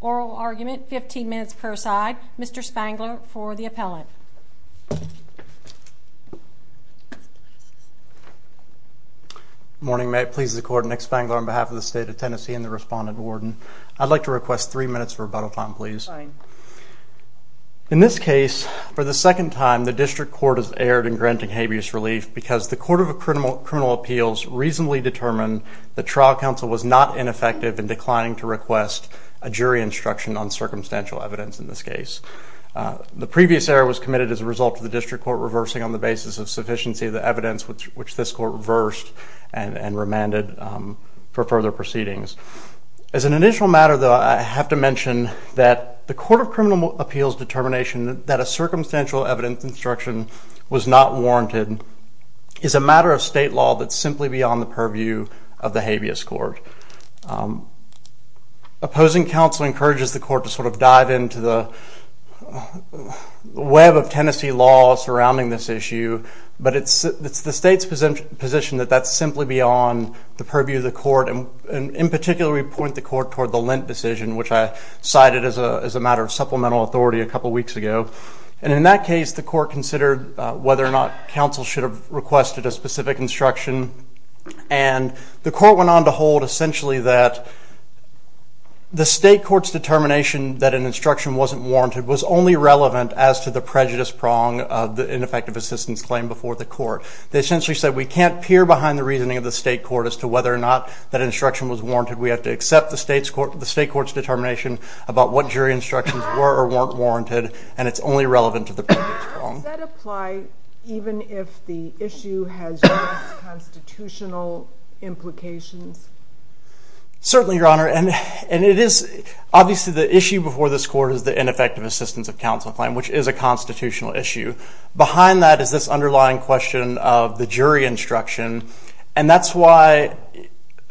oral argument, 15 minutes per side. Mr. Spangler for the appellant. Morning, may it please the court. Nick Spangler on behalf of the state of Tennessee and the respondent warden. I'd like to request three minutes of rebuttal time please. In this case, for the second time, the district court has asked for a rebuttal time of three minutes and has erred in granting habeas relief because the court of criminal appeals reasonably determined that trial counsel was not ineffective in declining to request a jury instruction on circumstantial evidence in this case. The previous error was committed as a result of the district court reversing on the basis of sufficiency of the evidence which this court reversed and remanded for further proceedings. As an initial matter though, I have to mention that the court of criminal appeals determination that a circumstantial evidence instruction was not warranted is a matter of state law that's simply beyond the purview of the habeas court. Opposing counsel encourages the court to sort of dive into the web of Tennessee law surrounding this issue, but it's the state's position that that's simply beyond the purview of the court. And in that case, the court considered whether or not counsel should have requested a specific instruction and the court went on to hold essentially that the state court's determination that an instruction wasn't warranted was only relevant as to the prejudice prong of the ineffective assistance claim before the court. They essentially said we can't peer behind the reasoning of the state court as to whether or not that instruction was warranted. We have to accept the state court's determination about what jury instructions were or weren't warranted and it's only relevant to the prejudice prong. Does that apply even if the issue has constitutional implications? Certainly, Your Honor, and it is obviously the issue before this court is the ineffective assistance of counsel claim, which is a constitutional issue. Behind that is this underlying question of the jury instruction and that's why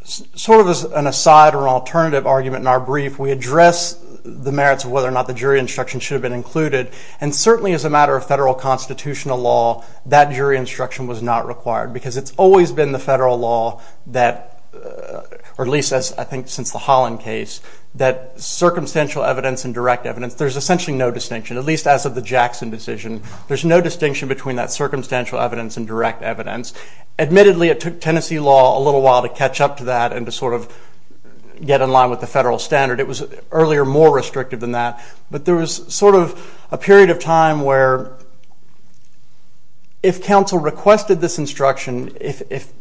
sort of as an aside or an alternative argument in our brief, we address the merits of whether or not the jury instruction should have been included and certainly as a matter of federal constitutional law, that jury instruction was not required because it's always been the federal law that or at least I think since the Holland case, that circumstantial evidence and direct evidence, there's essentially no distinction, at least as of the Jackson decision. There's no distinction between that circumstantial evidence and direct evidence. Admittedly, it took Tennessee law a little while to catch up to that and to sort of get in line with the federal standard. It was earlier more restrictive than that, but there was sort of a period of time where if counsel requested this instruction, if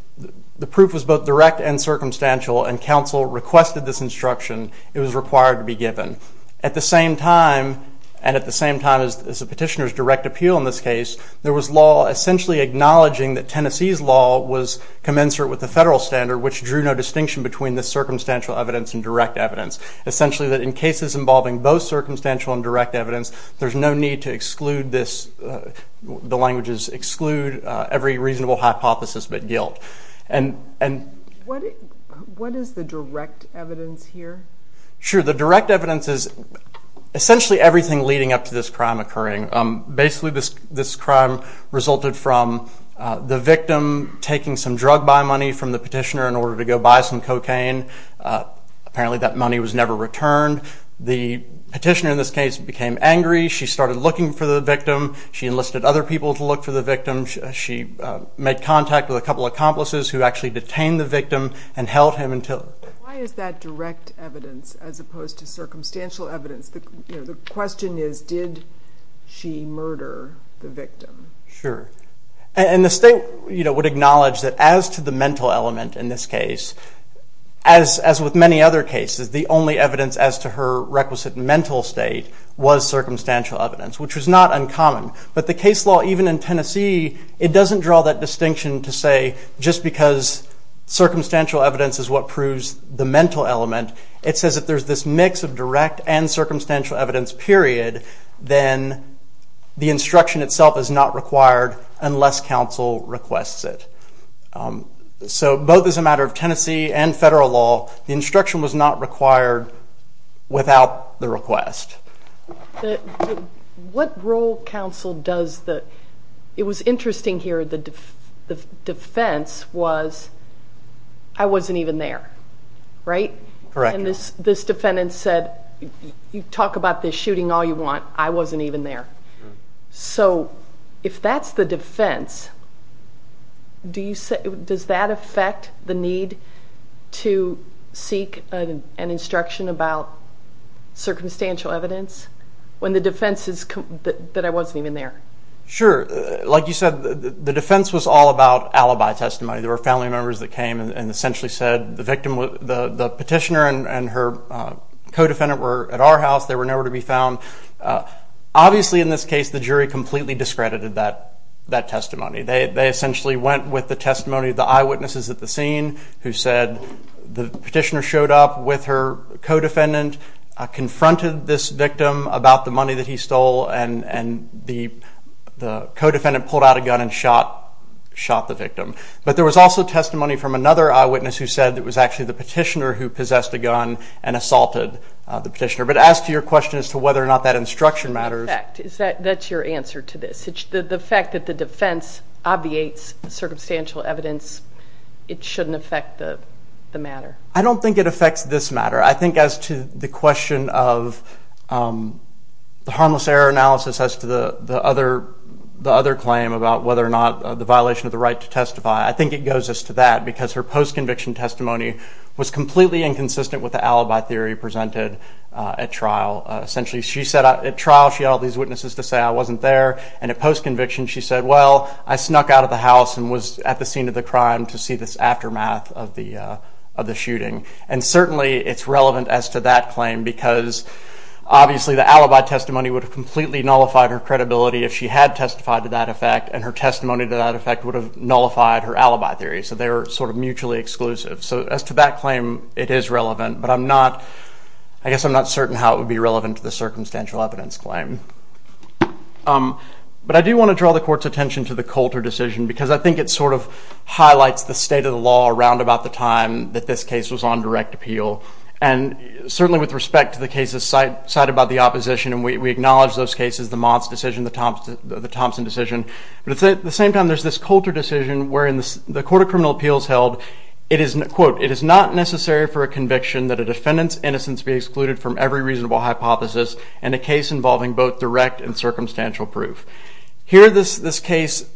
the proof was both direct and circumstantial and counsel requested this instruction, it was required to be given. At the same time and at the same time as the petitioner's direct appeal in this case, there was law essentially acknowledging that Tennessee's law was commensurate with the federal standard, which drew no distinction between the circumstantial evidence and direct evidence. Essentially that in cases involving both circumstantial and direct evidence, there's no need to exclude this, the language is exclude every reasonable hypothesis but guilt. What is the direct evidence here? Sure, the direct evidence is essentially everything leading up to this crime occurring. Basically this crime resulted from the victim taking some drug buy money from the petitioner in order to go buy some cocaine. Apparently that money was never returned. The petitioner in this case became angry. She started looking for the victim. She enlisted other people to look for the victim. She made contact with a couple of accomplices who actually detained the victim and held him until... Why is that direct evidence as opposed to circumstantial evidence? The question is, did she murder the victim? Sure. The state would acknowledge that as to the mental element in this case, as with many other cases, the only evidence as to her requisite mental state was circumstantial evidence, which was not uncommon. But the case law even in Tennessee, it doesn't draw that distinction to say just because circumstantial evidence is what proves the mental element. It says if there's this mix of direct and circumstantial evidence, period, then the instruction itself is not required unless counsel requests it. So both as a matter of Tennessee and federal law, the instruction was not required without the request. What role counsel does the... It was interesting here, the defense was, I wasn't even there, right? Correct. And this defendant said, you talk about this shooting all you want, I wasn't even there. So if that's the defense, does that affect the need to seek an instruction about circumstantial evidence when the defense is that I wasn't even there? Sure. Like you said, the defense was all about alibi testimony. There were family members that came and essentially said the victim, the petitioner and her co-defendant were at our house, they were nowhere to be found. Obviously in this case the jury completely discredited that testimony. They essentially went with the testimony of the eyewitnesses at the scene who said the petitioner showed up with her co-defendant, confronted this victim about the money that he stole, and the co-defendant pulled out a gun and shot the victim. But there was also testimony from another eyewitness who said it was actually the petitioner who possessed a gun and assaulted the petitioner. But as to your question as to whether or not that instruction matters... That's your answer to this. The fact that the defense obviates circumstantial evidence, it shouldn't affect the matter. I don't think it affects this matter. I think as to the question of the harmless error analysis as to the other claim about whether or not the violation of the right to testify, I think it goes as to that because her post-conviction testimony was completely inconsistent with the alibi theory presented at trial. Essentially she said at trial she had all these witnesses to say I wasn't there, and at post-conviction she said well, I snuck out of the house and was at the scene of the crime to see this aftermath of the shooting. And certainly it's relevant as to that claim because obviously the alibi testimony would have completely nullified her credibility if she had testified to that effect, and her testimony to that effect would have nullified her alibi theory. So they were sort of mutually exclusive. So as to that claim it is relevant, but I guess I'm not certain how it would be relevant to the circumstantial evidence claim. But I do want to draw the court's attention to the Coulter decision because I think it sort of highlights the state of the law around about the time that this case was on direct appeal. And certainly with respect to the cases cited by the opposition, and we acknowledge those cases, the Mott's decision, the Thompson decision, but at the same time there's this Coulter decision wherein the Court of Criminal Appeals held, quote, it is not necessary for a conviction that a defendant's innocence be excluded from every reasonable hypothesis in a case involving both direct and circumstantial proof. Here this case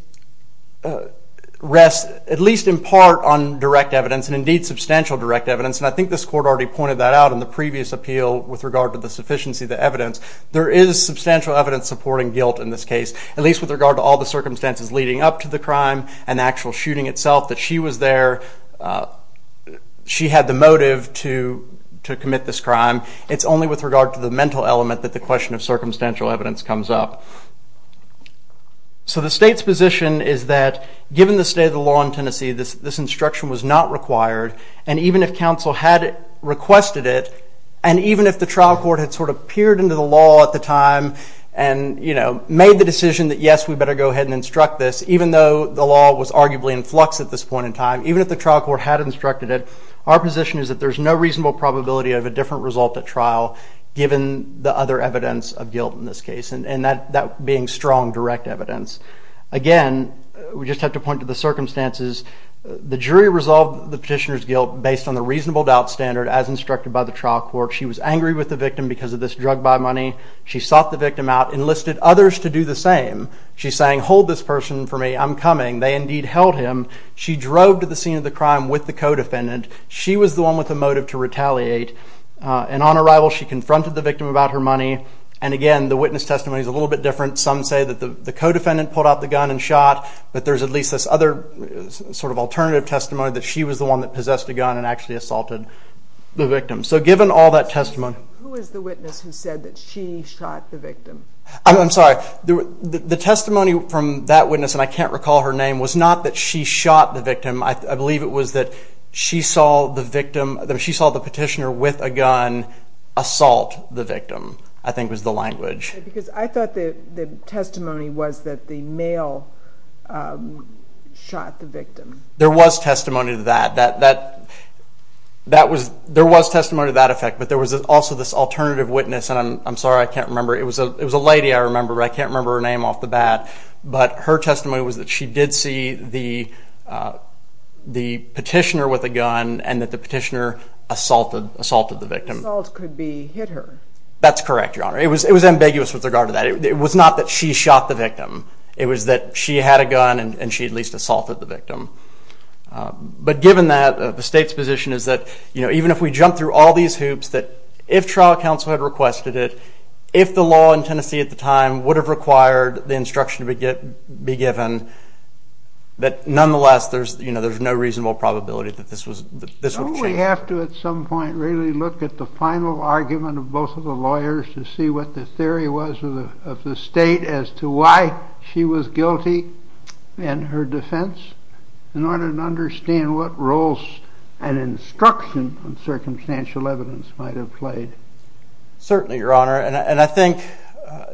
rests at least in part on direct evidence, and indeed substantial direct evidence. And I think this Court already pointed that out in the previous appeal with regard to the sufficiency of the evidence. There is substantial evidence supporting guilt in this case, at least with regard to all the circumstances leading up to the crime and the actual shooting itself, that she was there, she had the motive to commit this crime. It's only with regard to the mental element that the question of circumstantial evidence comes up. So the state's position is that given the state of the law in Tennessee, this instruction was not required, and even if counsel had requested it, and even if the trial court had sort of peered into the law at the time and made the decision that yes, we better go ahead and instruct this, even though the law was arguably in flux at this point in time, even if the trial court had instructed it, our position is that there's no reasonable probability of a different result at trial given the other evidence of guilt in this case, and that being strong direct evidence. Again, we just have to point to the circumstances. The jury resolved the petitioner's guilt based on the reasonable doubt standard as instructed by the trial court. She was angry with the victim because of this drug buy money. She sought the victim out, enlisted others to do the same. She sang, hold this person for me, I'm coming. They indeed held him. She drove to the scene of the crime with the co-defendant. She was the one with the motive to retaliate, and on arrival she confronted the victim about her money. And again, the witness testimony is a little bit different. Some say that the co-defendant pulled out the gun and shot, but there's at least this other sort of alternative testimony that she was the one that possessed the gun and actually assaulted the victim. So given all that testimony... Who was the witness who said that she shot the victim? I'm sorry, the testimony from that witness, and I can't recall her name, was not that she shot the victim. I believe it was that she saw the victim, she saw the petitioner with a gun assault the victim, I think was the language. Because I thought the testimony was that the male shot the victim. There was testimony to that. There was testimony to that effect, but there was also this alternative witness, and I'm sorry, I can't remember. It was a lady I remember, but I can't remember her name off the bat. But her testimony was that she did see the petitioner with a gun and that the petitioner assaulted the victim. The assault could be hit her. That's correct, Your Honor. It was ambiguous with regard to that. It was not that she shot the victim. It was that she had a gun and she at least assaulted the victim. But given that, the State's position is that even if we jump through all these hoops, that if trial counsel had requested it, if the law in Tennessee at the time would have required the instruction to be given, that nonetheless there's no reasonable probability that this would have changed. Do we have to at some point really look at the final argument of both of the lawyers to see what the theory was of the State as to why she was guilty in her defense in order to understand what roles an instruction on circumstantial evidence might have played? Certainly, Your Honor, and I think,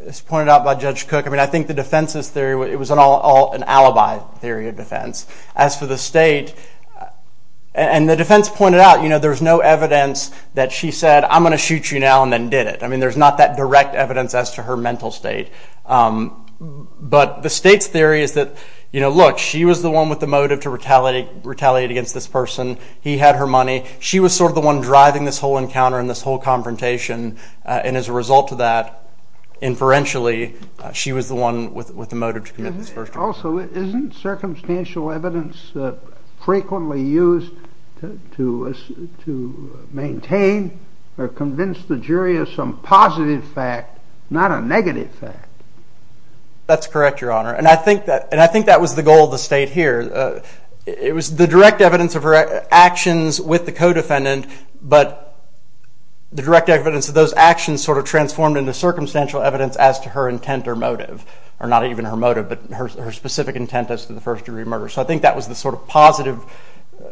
as pointed out by Judge Cook, I think the defense's theory, it was an alibi theory of defense. As for the State, and the defense pointed out, there's no evidence that she said, I'm going to shoot you now and then did it. I mean, there's not that direct evidence as to her mental state. But the State's theory is that, look, she was the one with the motive to retaliate against this person. He had her money. She was sort of the one driving this whole encounter and this whole confrontation. And as a result of that, referentially, she was the one with the motive to commit this first crime. Also, isn't circumstantial evidence frequently used to maintain or convince the jury of some positive fact, not a negative fact? That's correct, Your Honor. And I think that was the goal of the State here. It was the direct evidence of her actions with the co-defendant, but the direct evidence of those actions sort of transformed into circumstantial evidence as to her intent or motive. Or not even her motive, but her specific intent as to the first-degree murder. So I think that was the sort of positive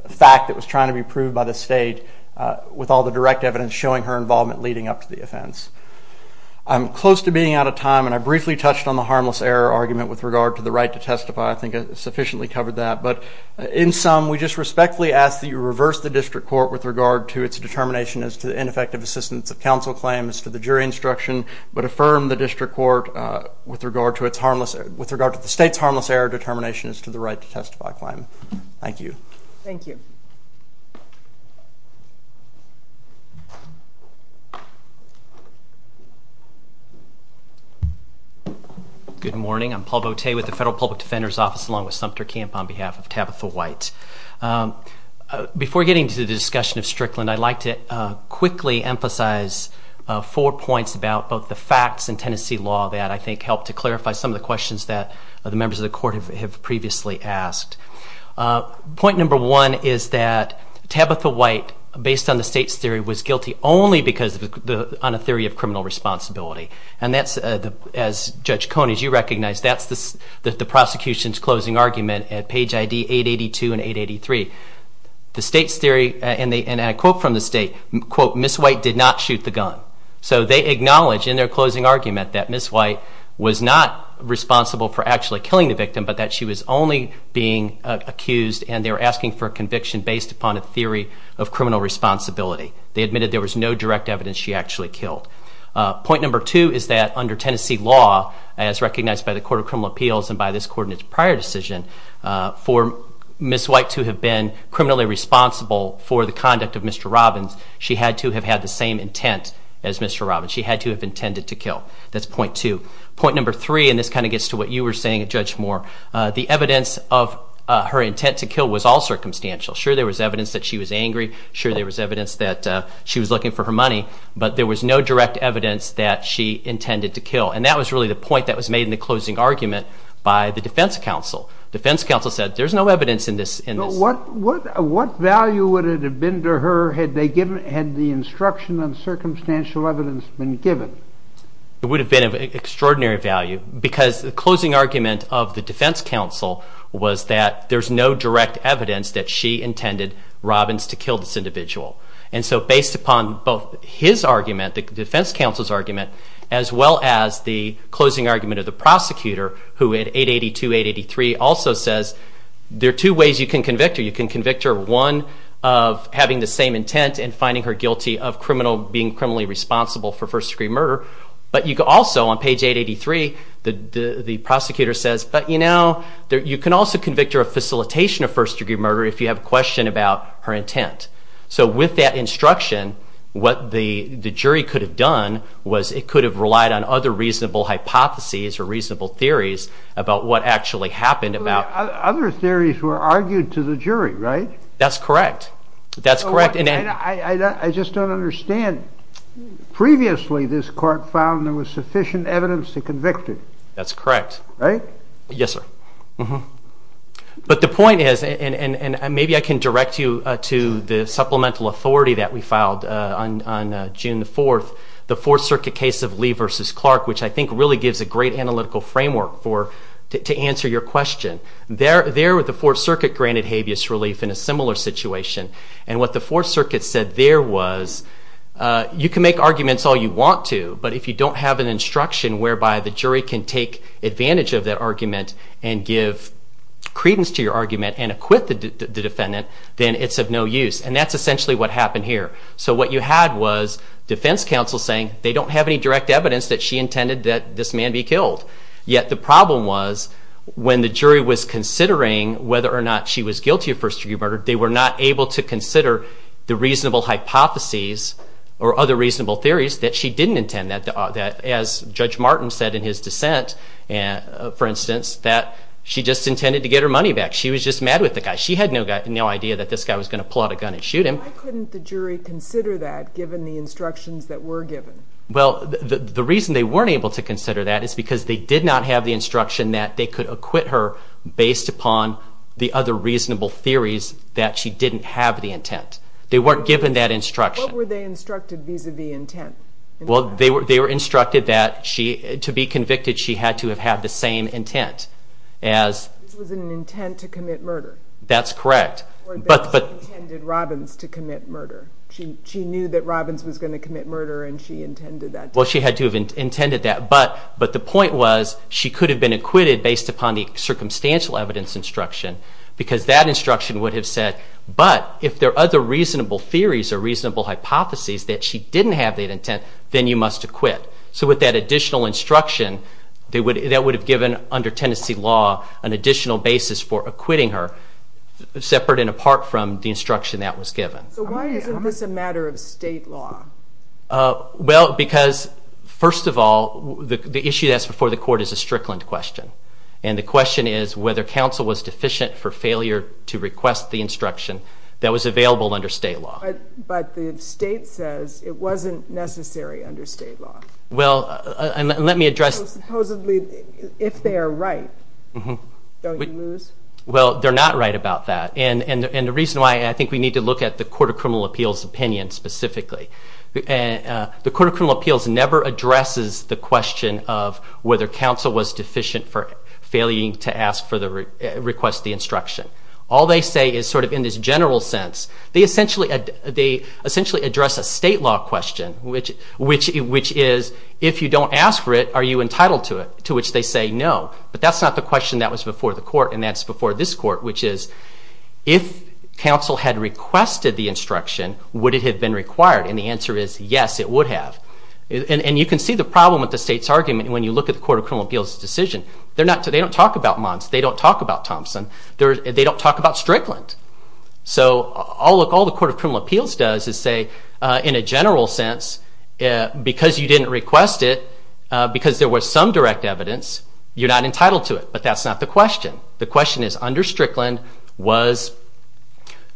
fact that was trying to be proved by the State with all the direct evidence showing her involvement leading up to the offense. I'm close to being out of time, and I briefly touched on the harmless error argument with regard to the right to testify. I think I sufficiently covered that. But in sum, we just respectfully ask that you reverse the District Court with regard to its determination as to the ineffective assistance of counsel claim as to the jury instruction, but affirm the District Court with regard to the State's harmless error determination as to the right to testify claim. Thank you. Thank you. Good morning. I'm Paul Boutte with the Federal Public Defender's Office along with Sumter Camp on behalf of Tabitha White. Before getting to the discussion of Strickland, I'd like to quickly emphasize four points about both the facts and Tennessee law that I think help to clarify some of the questions that the members of the Court have previously asked. Point number one is that Tabitha White, based on the State's theory, was guilty only because on a theory of criminal responsibility. And that's, as Judge Cone, as you recognize, that's the prosecution's closing argument at page ID 882 and 883. The State's theory, and a quote from the State, quote, Ms. White did not shoot the gun. So they acknowledge in their closing argument that Ms. White was not responsible for actually killing the victim, but that she was only being accused and they were asking for a conviction based upon a theory of criminal responsibility. They admitted there was no direct evidence she actually killed. Point number two is that under Tennessee law, as recognized by the Court of Criminal Appeals and by this prior decision, for Ms. White to have been criminally responsible for the conduct of Mr. Robbins, she had to have had the same intent as Mr. Robbins. She had to have been a criminal. And so the evidence of her intent to kill was all circumstantial. Sure, there was evidence that she was angry. Sure, there was evidence that she was looking for her money. But there was no direct evidence that she intended to kill. And that was really the point that was made in the closing argument by the Defense Counsel. The Defense Counsel said there's no evidence in this. What value would it have been to her had the instruction on circumstantial evidence been given? It would have been of extraordinary value because the closing argument of the Defense Counsel was that there's no direct evidence that she intended Robbins to kill this individual. And so based upon both his argument, the Defense Counsel's argument, as well as the closing argument of the prosecutor, who in 882-883 also says there are two ways you can convict her. You can convict her one, of having the same intent and finding her guilty of being criminally responsible for first-degree murder. But you can also, on page 883, the prosecutor says, but you know, you can also convict her of facilitation of first-degree murder if you have a question about her intent. So with that instruction, what the jury could have done was it could have relied on other reasonable hypotheses or reasonable theories about what actually happened. Other theories were argued to the jury, right? That's correct. I just don't understand. Previously, this court found there was sufficient evidence to convict her. That's correct. Right? Yes, sir. But the point is, and maybe I can direct you to the supplemental authority that we filed on June 4th, the Fourth Circuit case of Lee v. Clark, which I think really gives a great analytical framework to answer your question. There, the Fourth Circuit granted habeas relief in a similar situation. And what the Fourth Circuit said there was, you can make arguments all you want to, but if you don't have an instruction whereby the jury can take advantage of that argument and give credence to your argument and acquit the defendant, then it's of no use. And that's essentially what happened here. So what you had was defense counsel saying they don't have any direct evidence that she intended that this man be killed. Yet the problem was when the jury was considering whether or not she was guilty of first-degree murder, they were not able to consider the reasonable hypotheses or other reasonable theories that she didn't intend, that as Judge Martin said in his dissent, for instance, that she just intended to get her money back. She was just mad with the guy. She had no idea that this guy was going to pull out a gun and shoot him. Why couldn't the jury consider that given the instructions that were given? Well, the reason they weren't able to consider that is because they did not have the instruction that they could acquit her based upon the other reasonable theories that she didn't have the intent. They weren't given that instruction. What were they instructed vis-a-vis intent? Well, they were instructed that to be convicted she had to have had the same intent as... This was an intent to commit murder. That's correct. Or that she intended Robbins to commit murder. She knew that Robbins was going to commit murder and she intended that. Well, she had to have intended that, but the point was she could have been acquitted based upon the circumstantial evidence instruction because that instruction would have said, but if there are other reasonable theories or reasonable hypotheses that she didn't have that intent, then you must acquit. So with that additional instruction, that would have given under Tennessee law an additional basis for acquitting her separate and apart from the instruction that was given. So why isn't this a matter of state law? Well, because first of all, the issue that's before the court is a Strickland question. And the question is whether counsel was deficient for failure to request the instruction that was available under state law. But the state says it wasn't necessary under state law. Well, let me address... Supposedly, if they are right, don't you lose? Well, they're not right about that. And the reason why I think we need to look at the Court of Criminal Appeals opinion specifically. The Court of Criminal Appeals never addresses the question of whether counsel was deficient for failing to request the instruction. All they say is sort of in this general sense. They essentially address a state law question, which is if you don't ask for it, are you entitled to it? To which they say no. But that's not the question that was before the court, and that's before this court, which is if counsel had requested the instruction, would it have been required? And the answer is yes, it would have. And you can see the problem with the state's argument when you look at the Court of Criminal Appeals decision. They don't talk about Mons. They don't talk about Thompson. They don't talk about Strickland. So all the Court of Criminal Appeals does is say, in a general sense, because you didn't request it, because there was some direct evidence, you're not entitled to it. But that's not the question. The question is, under Strickland, was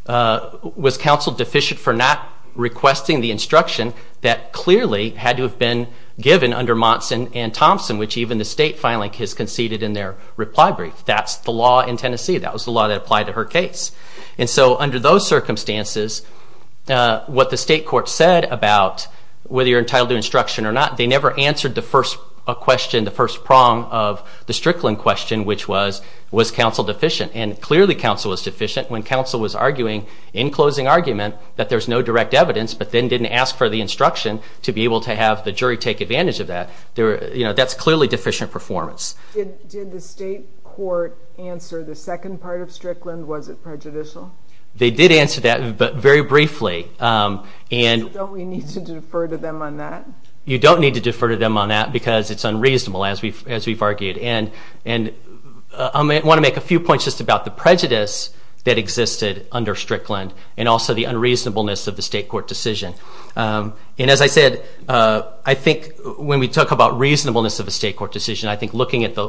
counsel deficient for not requesting the instruction that clearly had to have been given under Mons and Thompson, which even the state filing has conceded in their reply brief. That's the law in Tennessee. That was the law that applied to her case. And so under those circumstances, what the state court said about whether you're entitled to instruction or not, they never answered the first question, the first prong of the Strickland question, which was, was counsel deficient? And clearly counsel was deficient when counsel was arguing in closing argument that there's no direct evidence, but then didn't ask for the instruction to be able to have the jury take advantage of that. That's clearly deficient performance. Did the state court answer the second part of Strickland? Was it prejudicial? They did answer that, but very briefly. Don't we need to defer to them on that? You don't need to defer to them on that, because it's unreasonable, as we've argued. And I want to make a few points just about the prejudice that existed under Strickland, and also the unreasonableness of the state court decision. And as I said, I think when we talk about reasonableness of a state court decision, I think looking at the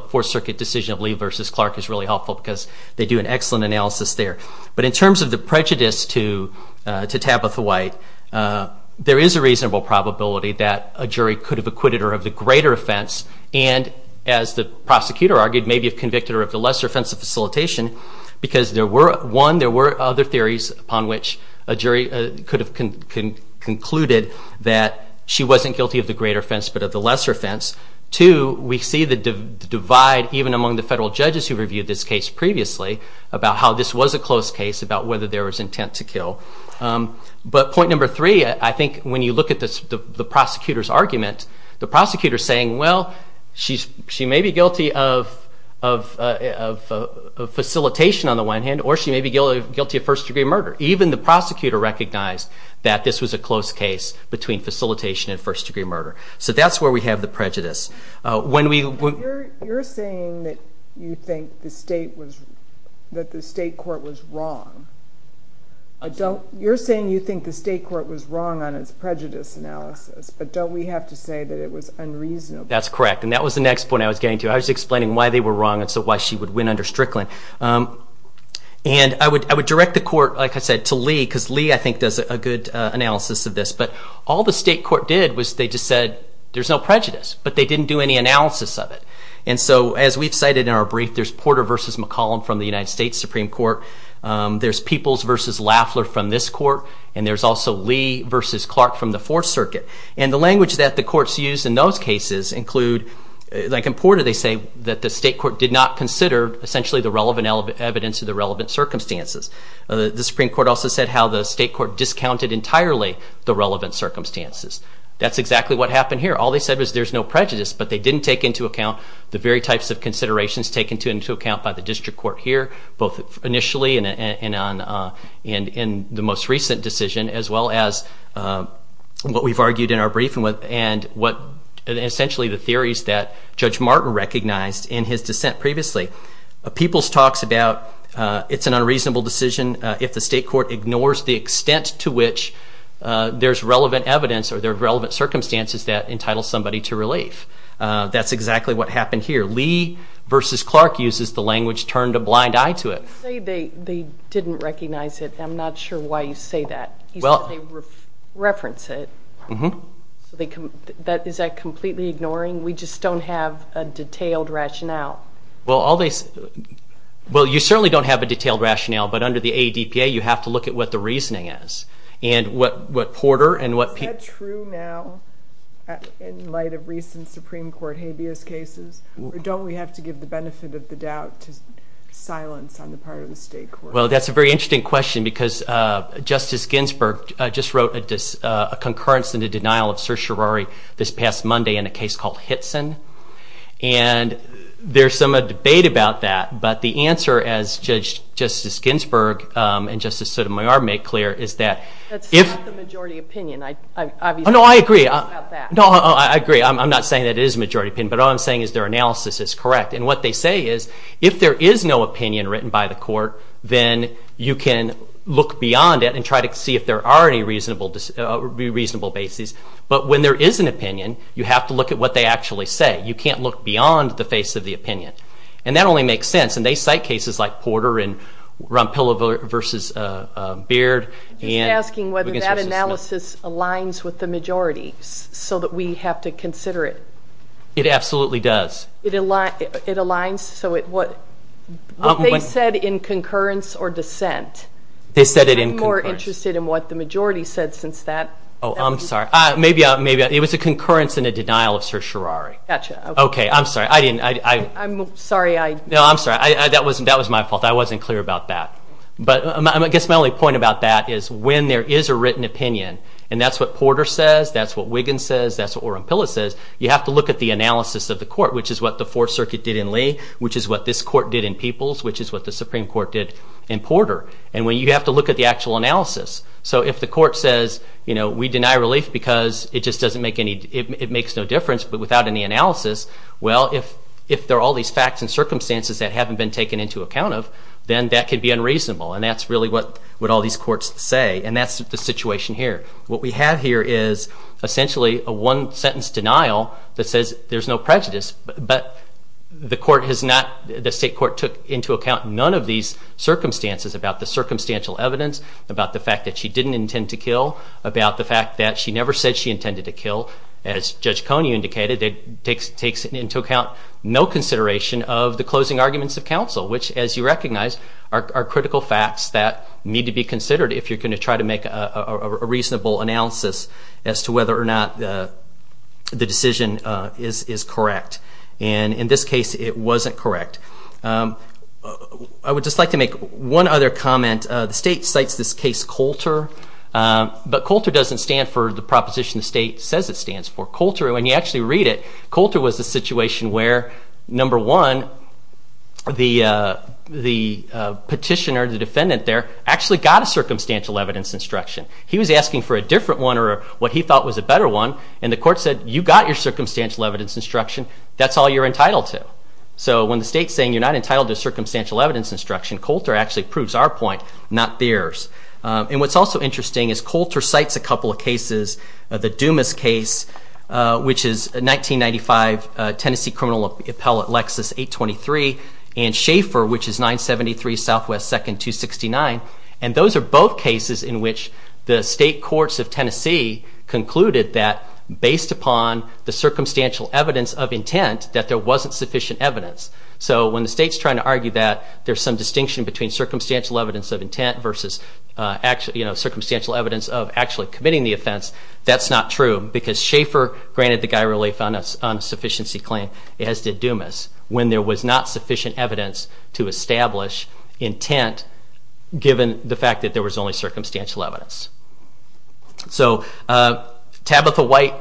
case, there's an excellent analysis there. But in terms of the prejudice to Tabitha White, there is a reasonable probability that a jury could have acquitted her of the greater offense, and as the prosecutor argued, maybe have convicted her of the lesser offense of facilitation, because there were, one, there were other theories upon which a jury could have concluded that she wasn't guilty of the greater offense, but of the lesser offense. Two, we see the divide, even among the federal judges who reviewed this case previously, about how this was a close case, about whether there was intent to kill. But point number three, I think when you look at the prosecutor's argument, the prosecutor's saying, well, she may be guilty of facilitation on the one hand, or she may be guilty of first-degree murder. Even the prosecutor recognized that this was a close case between facilitation and first-degree murder. So that's where we have the prejudice. You're saying that you think the state court was wrong. You're saying you think the state court was wrong on its prejudice analysis, but don't we have to say that it was unreasonable? That's correct, and that was the next point I was getting to. I was explaining why they were wrong, and so why she would win under Strickland. And I would direct the court, like I said, to Lee, because Lee, I think, does a good analysis of this. But all the state court did was they just said, there's no prejudice, but they didn't do any analysis of it. And so, as we've cited in our brief, there's Porter v. McCollum from the United States Supreme Court. There's Peoples v. Laffler from this court, and there's also Lee v. Clark from the Fourth Circuit. And the language that the courts used in those cases include, like in Porter, they say that the state court did not consider, essentially, the relevant evidence or the relevant circumstances. The Supreme Court also said how the state court discounted entirely the relevant circumstances. That's exactly what happened here. All they said was, there's no prejudice, but they didn't take into account the very types of considerations taken into account by the district court here, both initially and in the most recent decision, as well as what we've argued in our brief and what, essentially, the theories that Judge Martin recognized in his dissent previously. Peoples talks about it's an unreasonable decision if the state court ignores the extent to which there's relevant evidence or there are relevant circumstances that entitle somebody to relief. That's exactly what happened here. Lee v. Clark uses the language, turned a blind eye to it. You say they didn't recognize it. I'm not sure why you say that. You said they reference it. Is that completely ignoring? We just don't have a detailed rationale. Well, you certainly don't have a detailed rationale, but under the ADPA you have to look at what the reasoning is. Is that true now in light of recent Supreme Court habeas cases, or don't we have to give the benefit of the doubt to silence on the part of the state court? Well, that's a very interesting question because Justice Ginsburg just wrote a concurrence and a denial of certiorari this past Monday in a case called Hitson. And there's some debate about that, but the answer, as Judge Ginsburg and Justice Sotomayor made clear, is that if... That's not the majority opinion. No, I agree. I'm not saying that it is the majority opinion, but all I'm saying is their analysis is correct. And what they say is if there is no opinion written by the court, then you can look beyond it and try to see if there are any reasonable bases. But when there is an opinion, you have to look at what they actually say. You can't look beyond the face of the opinion. And that only makes sense. And they cite cases like Porter and it aligns with the majority, so that we have to consider it. It absolutely does. It aligns? What they said in concurrence or dissent... They said it in concurrence. I'm more interested in what the majority said since that... Oh, I'm sorry. It was a concurrence and a denial of certiorari. Gotcha. I'm sorry. I didn't... I'm sorry. No, I'm sorry. That was my fault. I wasn't clear about that. But I guess my only point about that is when there is a written opinion, and that's what Porter says, that's what Wiggins says, that's what Oren Pilla says, you have to look at the analysis of the court, which is what the Fourth Circuit did in Lee, which is what this court did in Peoples, which is what the Supreme Court did in Porter. And you have to look at the actual analysis. So if the court says, you know, we deny relief because it just doesn't make any... It makes no difference, but without any analysis, well, if there are all these facts and circumstances that haven't been taken into account of, then that could be unreasonable. And that's really what all these courts say. And that's the situation here. What we have here is essentially a one-sentence denial that says there's no prejudice, but the court has not... The state court took into account none of these circumstances about the circumstantial evidence, about the fact that she didn't intend to kill, about the fact that she never said she intended to kill. As Judge Coney indicated, it takes into account no consideration of the closing arguments of counsel, which, as you recognize, are critical facts that need to be considered if you're going to try to make a reasonable analysis as to whether or not the decision is correct. And in this case, it wasn't correct. I would just like to make one other comment. The state doesn't stand for the proposition the state says it stands for. Coulter, when you actually read it, Coulter was the situation where, number one, the petitioner, the defendant there, actually got a circumstantial evidence instruction. He was asking for a different one or what he thought was a better one, and the court said, you got your circumstantial evidence instruction. That's all you're entitled to. So when the state's saying you're not entitled to circumstantial evidence instruction, Coulter actually proves our point, not theirs. And what's also interesting is Coulter cites a couple of cases. The Dumas case, which is a 1995 Tennessee criminal appellate Lexus 823, and Schaefer, which is 973 Southwest 2nd, 269. And those are both cases in which the state courts of Tennessee concluded that, based upon the circumstantial evidence of intent, that there was only circumstantial evidence of intent versus circumstantial evidence of actually committing the offense. That's not true, because Schaefer granted the guy relief on a sufficiency claim, as did Dumas, when there was not sufficient evidence to establish intent given the fact that there was only circumstantial evidence. So Tabitha White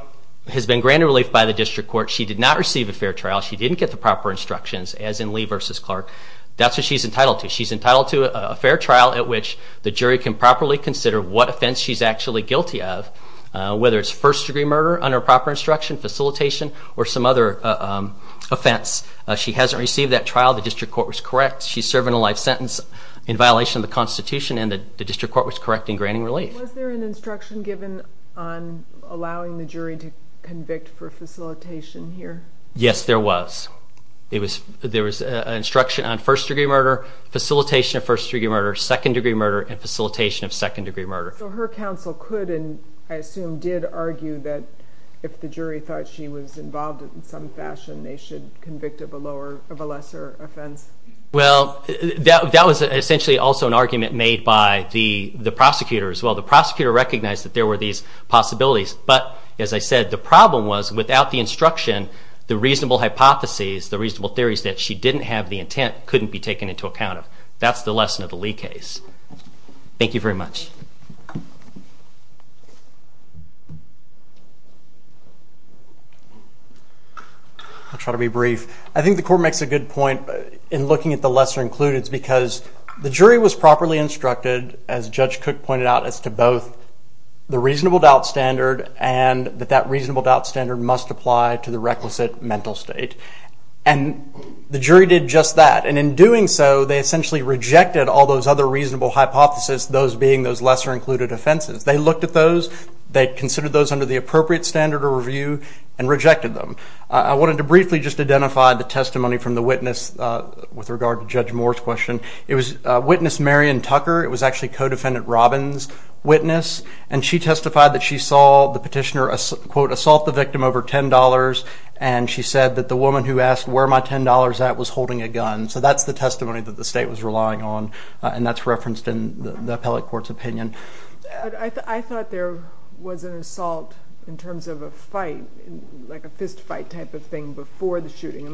has been granted relief by the district court. She did not receive a fair trial. She didn't get the proper instructions, as in Lee versus Clark. That's what she's entitled to. She's entitled to a fair trial at which the jury can properly consider what offense she's actually guilty of, whether it's first degree murder under proper instruction, facilitation, or some other offense. She hasn't received that trial. The district court was correct. She's serving a life sentence in violation of the Constitution, and the district court was correct in granting relief. Was there an instruction given on allowing the jury to convict for facilitation here? Yes, there was. There was an instruction on first degree murder, facilitation of first degree murder, second degree murder, and facilitation of second degree murder. So her counsel could, and I assume did, argue that if the jury thought she was involved in some fashion, they should convict of a lesser offense? Well, that was one of Lee's possibilities. But, as I said, the problem was without the instruction, the reasonable hypotheses, the reasonable theories that she didn't have the intent couldn't be taken into account. That's the lesson of the Lee case. Thank you very much. I'll try to be brief. I think the court makes a good point in looking at the lesser includeds because the jury was properly instructed, as Judge Cook pointed out, as to both the reasonable doubt standard and that that reasonable doubt standard must apply to the requisite mental state. And the jury did just that. And in doing so, they essentially rejected all those other reasonable hypotheses, those being those lesser included offenses. They looked at those, they considered those under the appropriate standard of review, and rejected them. I wanted to it was Witness Marion Tucker. It was actually Co-Defendant Robbins' witness. And she testified that she saw the petitioner, quote, assault the victim over $10, and she said that the woman who asked where my $10 at was holding a gun. So that's the testimony that the state was relying on. And that's referenced in the appellate court's opinion. But I thought there was an assault in terms of a fight, like a fist fight type of thing before the shooting.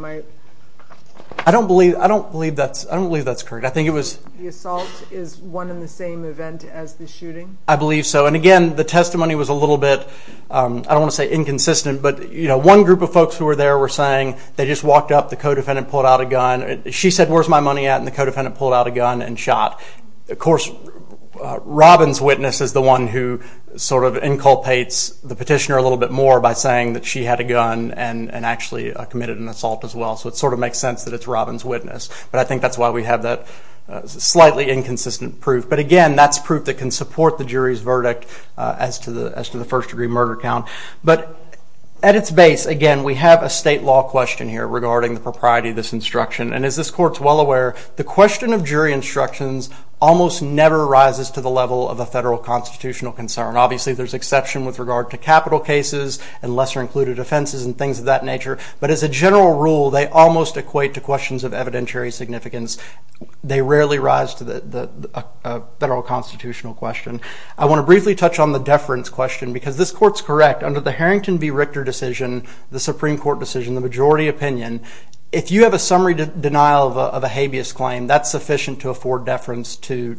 I don't believe that's correct. I think it was The assault is one in the same event as the shooting? I believe so. And again, the testimony was a little bit, I don't want to say inconsistent, but one group of folks who were there were saying they just walked up, the Co-Defendant pulled out a gun. She said, where's my money at? And the Co-Defendant pulled out a gun and shot. Of course, Robbins' witness is the one who sort of palpates the petitioner a little bit more by saying that she had a gun and actually committed an assault as well. So it sort of makes sense that it's Robbins' witness. But I think that's why we have that slightly inconsistent proof. But again, that's proof that can support the jury's verdict as to the first degree murder count. But at its base, again, we have a state law question here regarding the propriety of this instruction. And as this court's well aware, the question of jury instructions almost never rises to the level of a federal constitutional concern. Obviously, there's exception with regard to capital cases and lesser included offenses and things of that nature. But as a general rule, they almost equate to questions of evidentiary significance. They rarely rise to the federal constitutional question. I want to briefly touch on the deference question because this court's correct. Under the Harrington v. Richter decision, the Supreme Court decision, the majority opinion, if you have a summary denial of a habeas claim, that's sufficient to afford deference to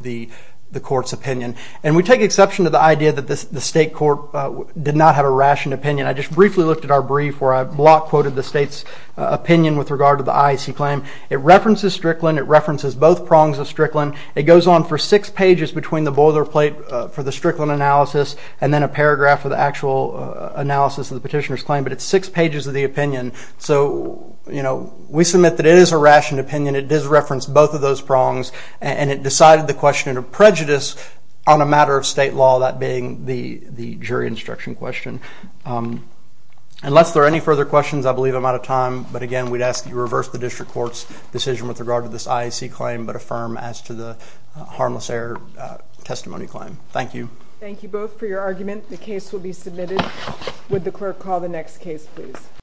the court's opinion. And we take exception to the idea that the state court did not have a rationed opinion. I just briefly looked at our brief where I block quoted the state's opinion with regard to the IAC claim. It references Strickland. It references both prongs of Strickland. It goes on for six pages between the boilerplate for the Strickland analysis and then a we submit that it is a rationed opinion. It does reference both of those prongs. And it decided the question of prejudice on a matter of state law, that being the jury instruction question. Unless there are any further questions, I believe I'm out of time. But again, we'd ask that you reverse the district court's decision with regard to this IAC claim but affirm as to the harmless error testimony claim. Thank you. Thank you both for your argument. The case will be submitted. Would the clerk call the next case, please?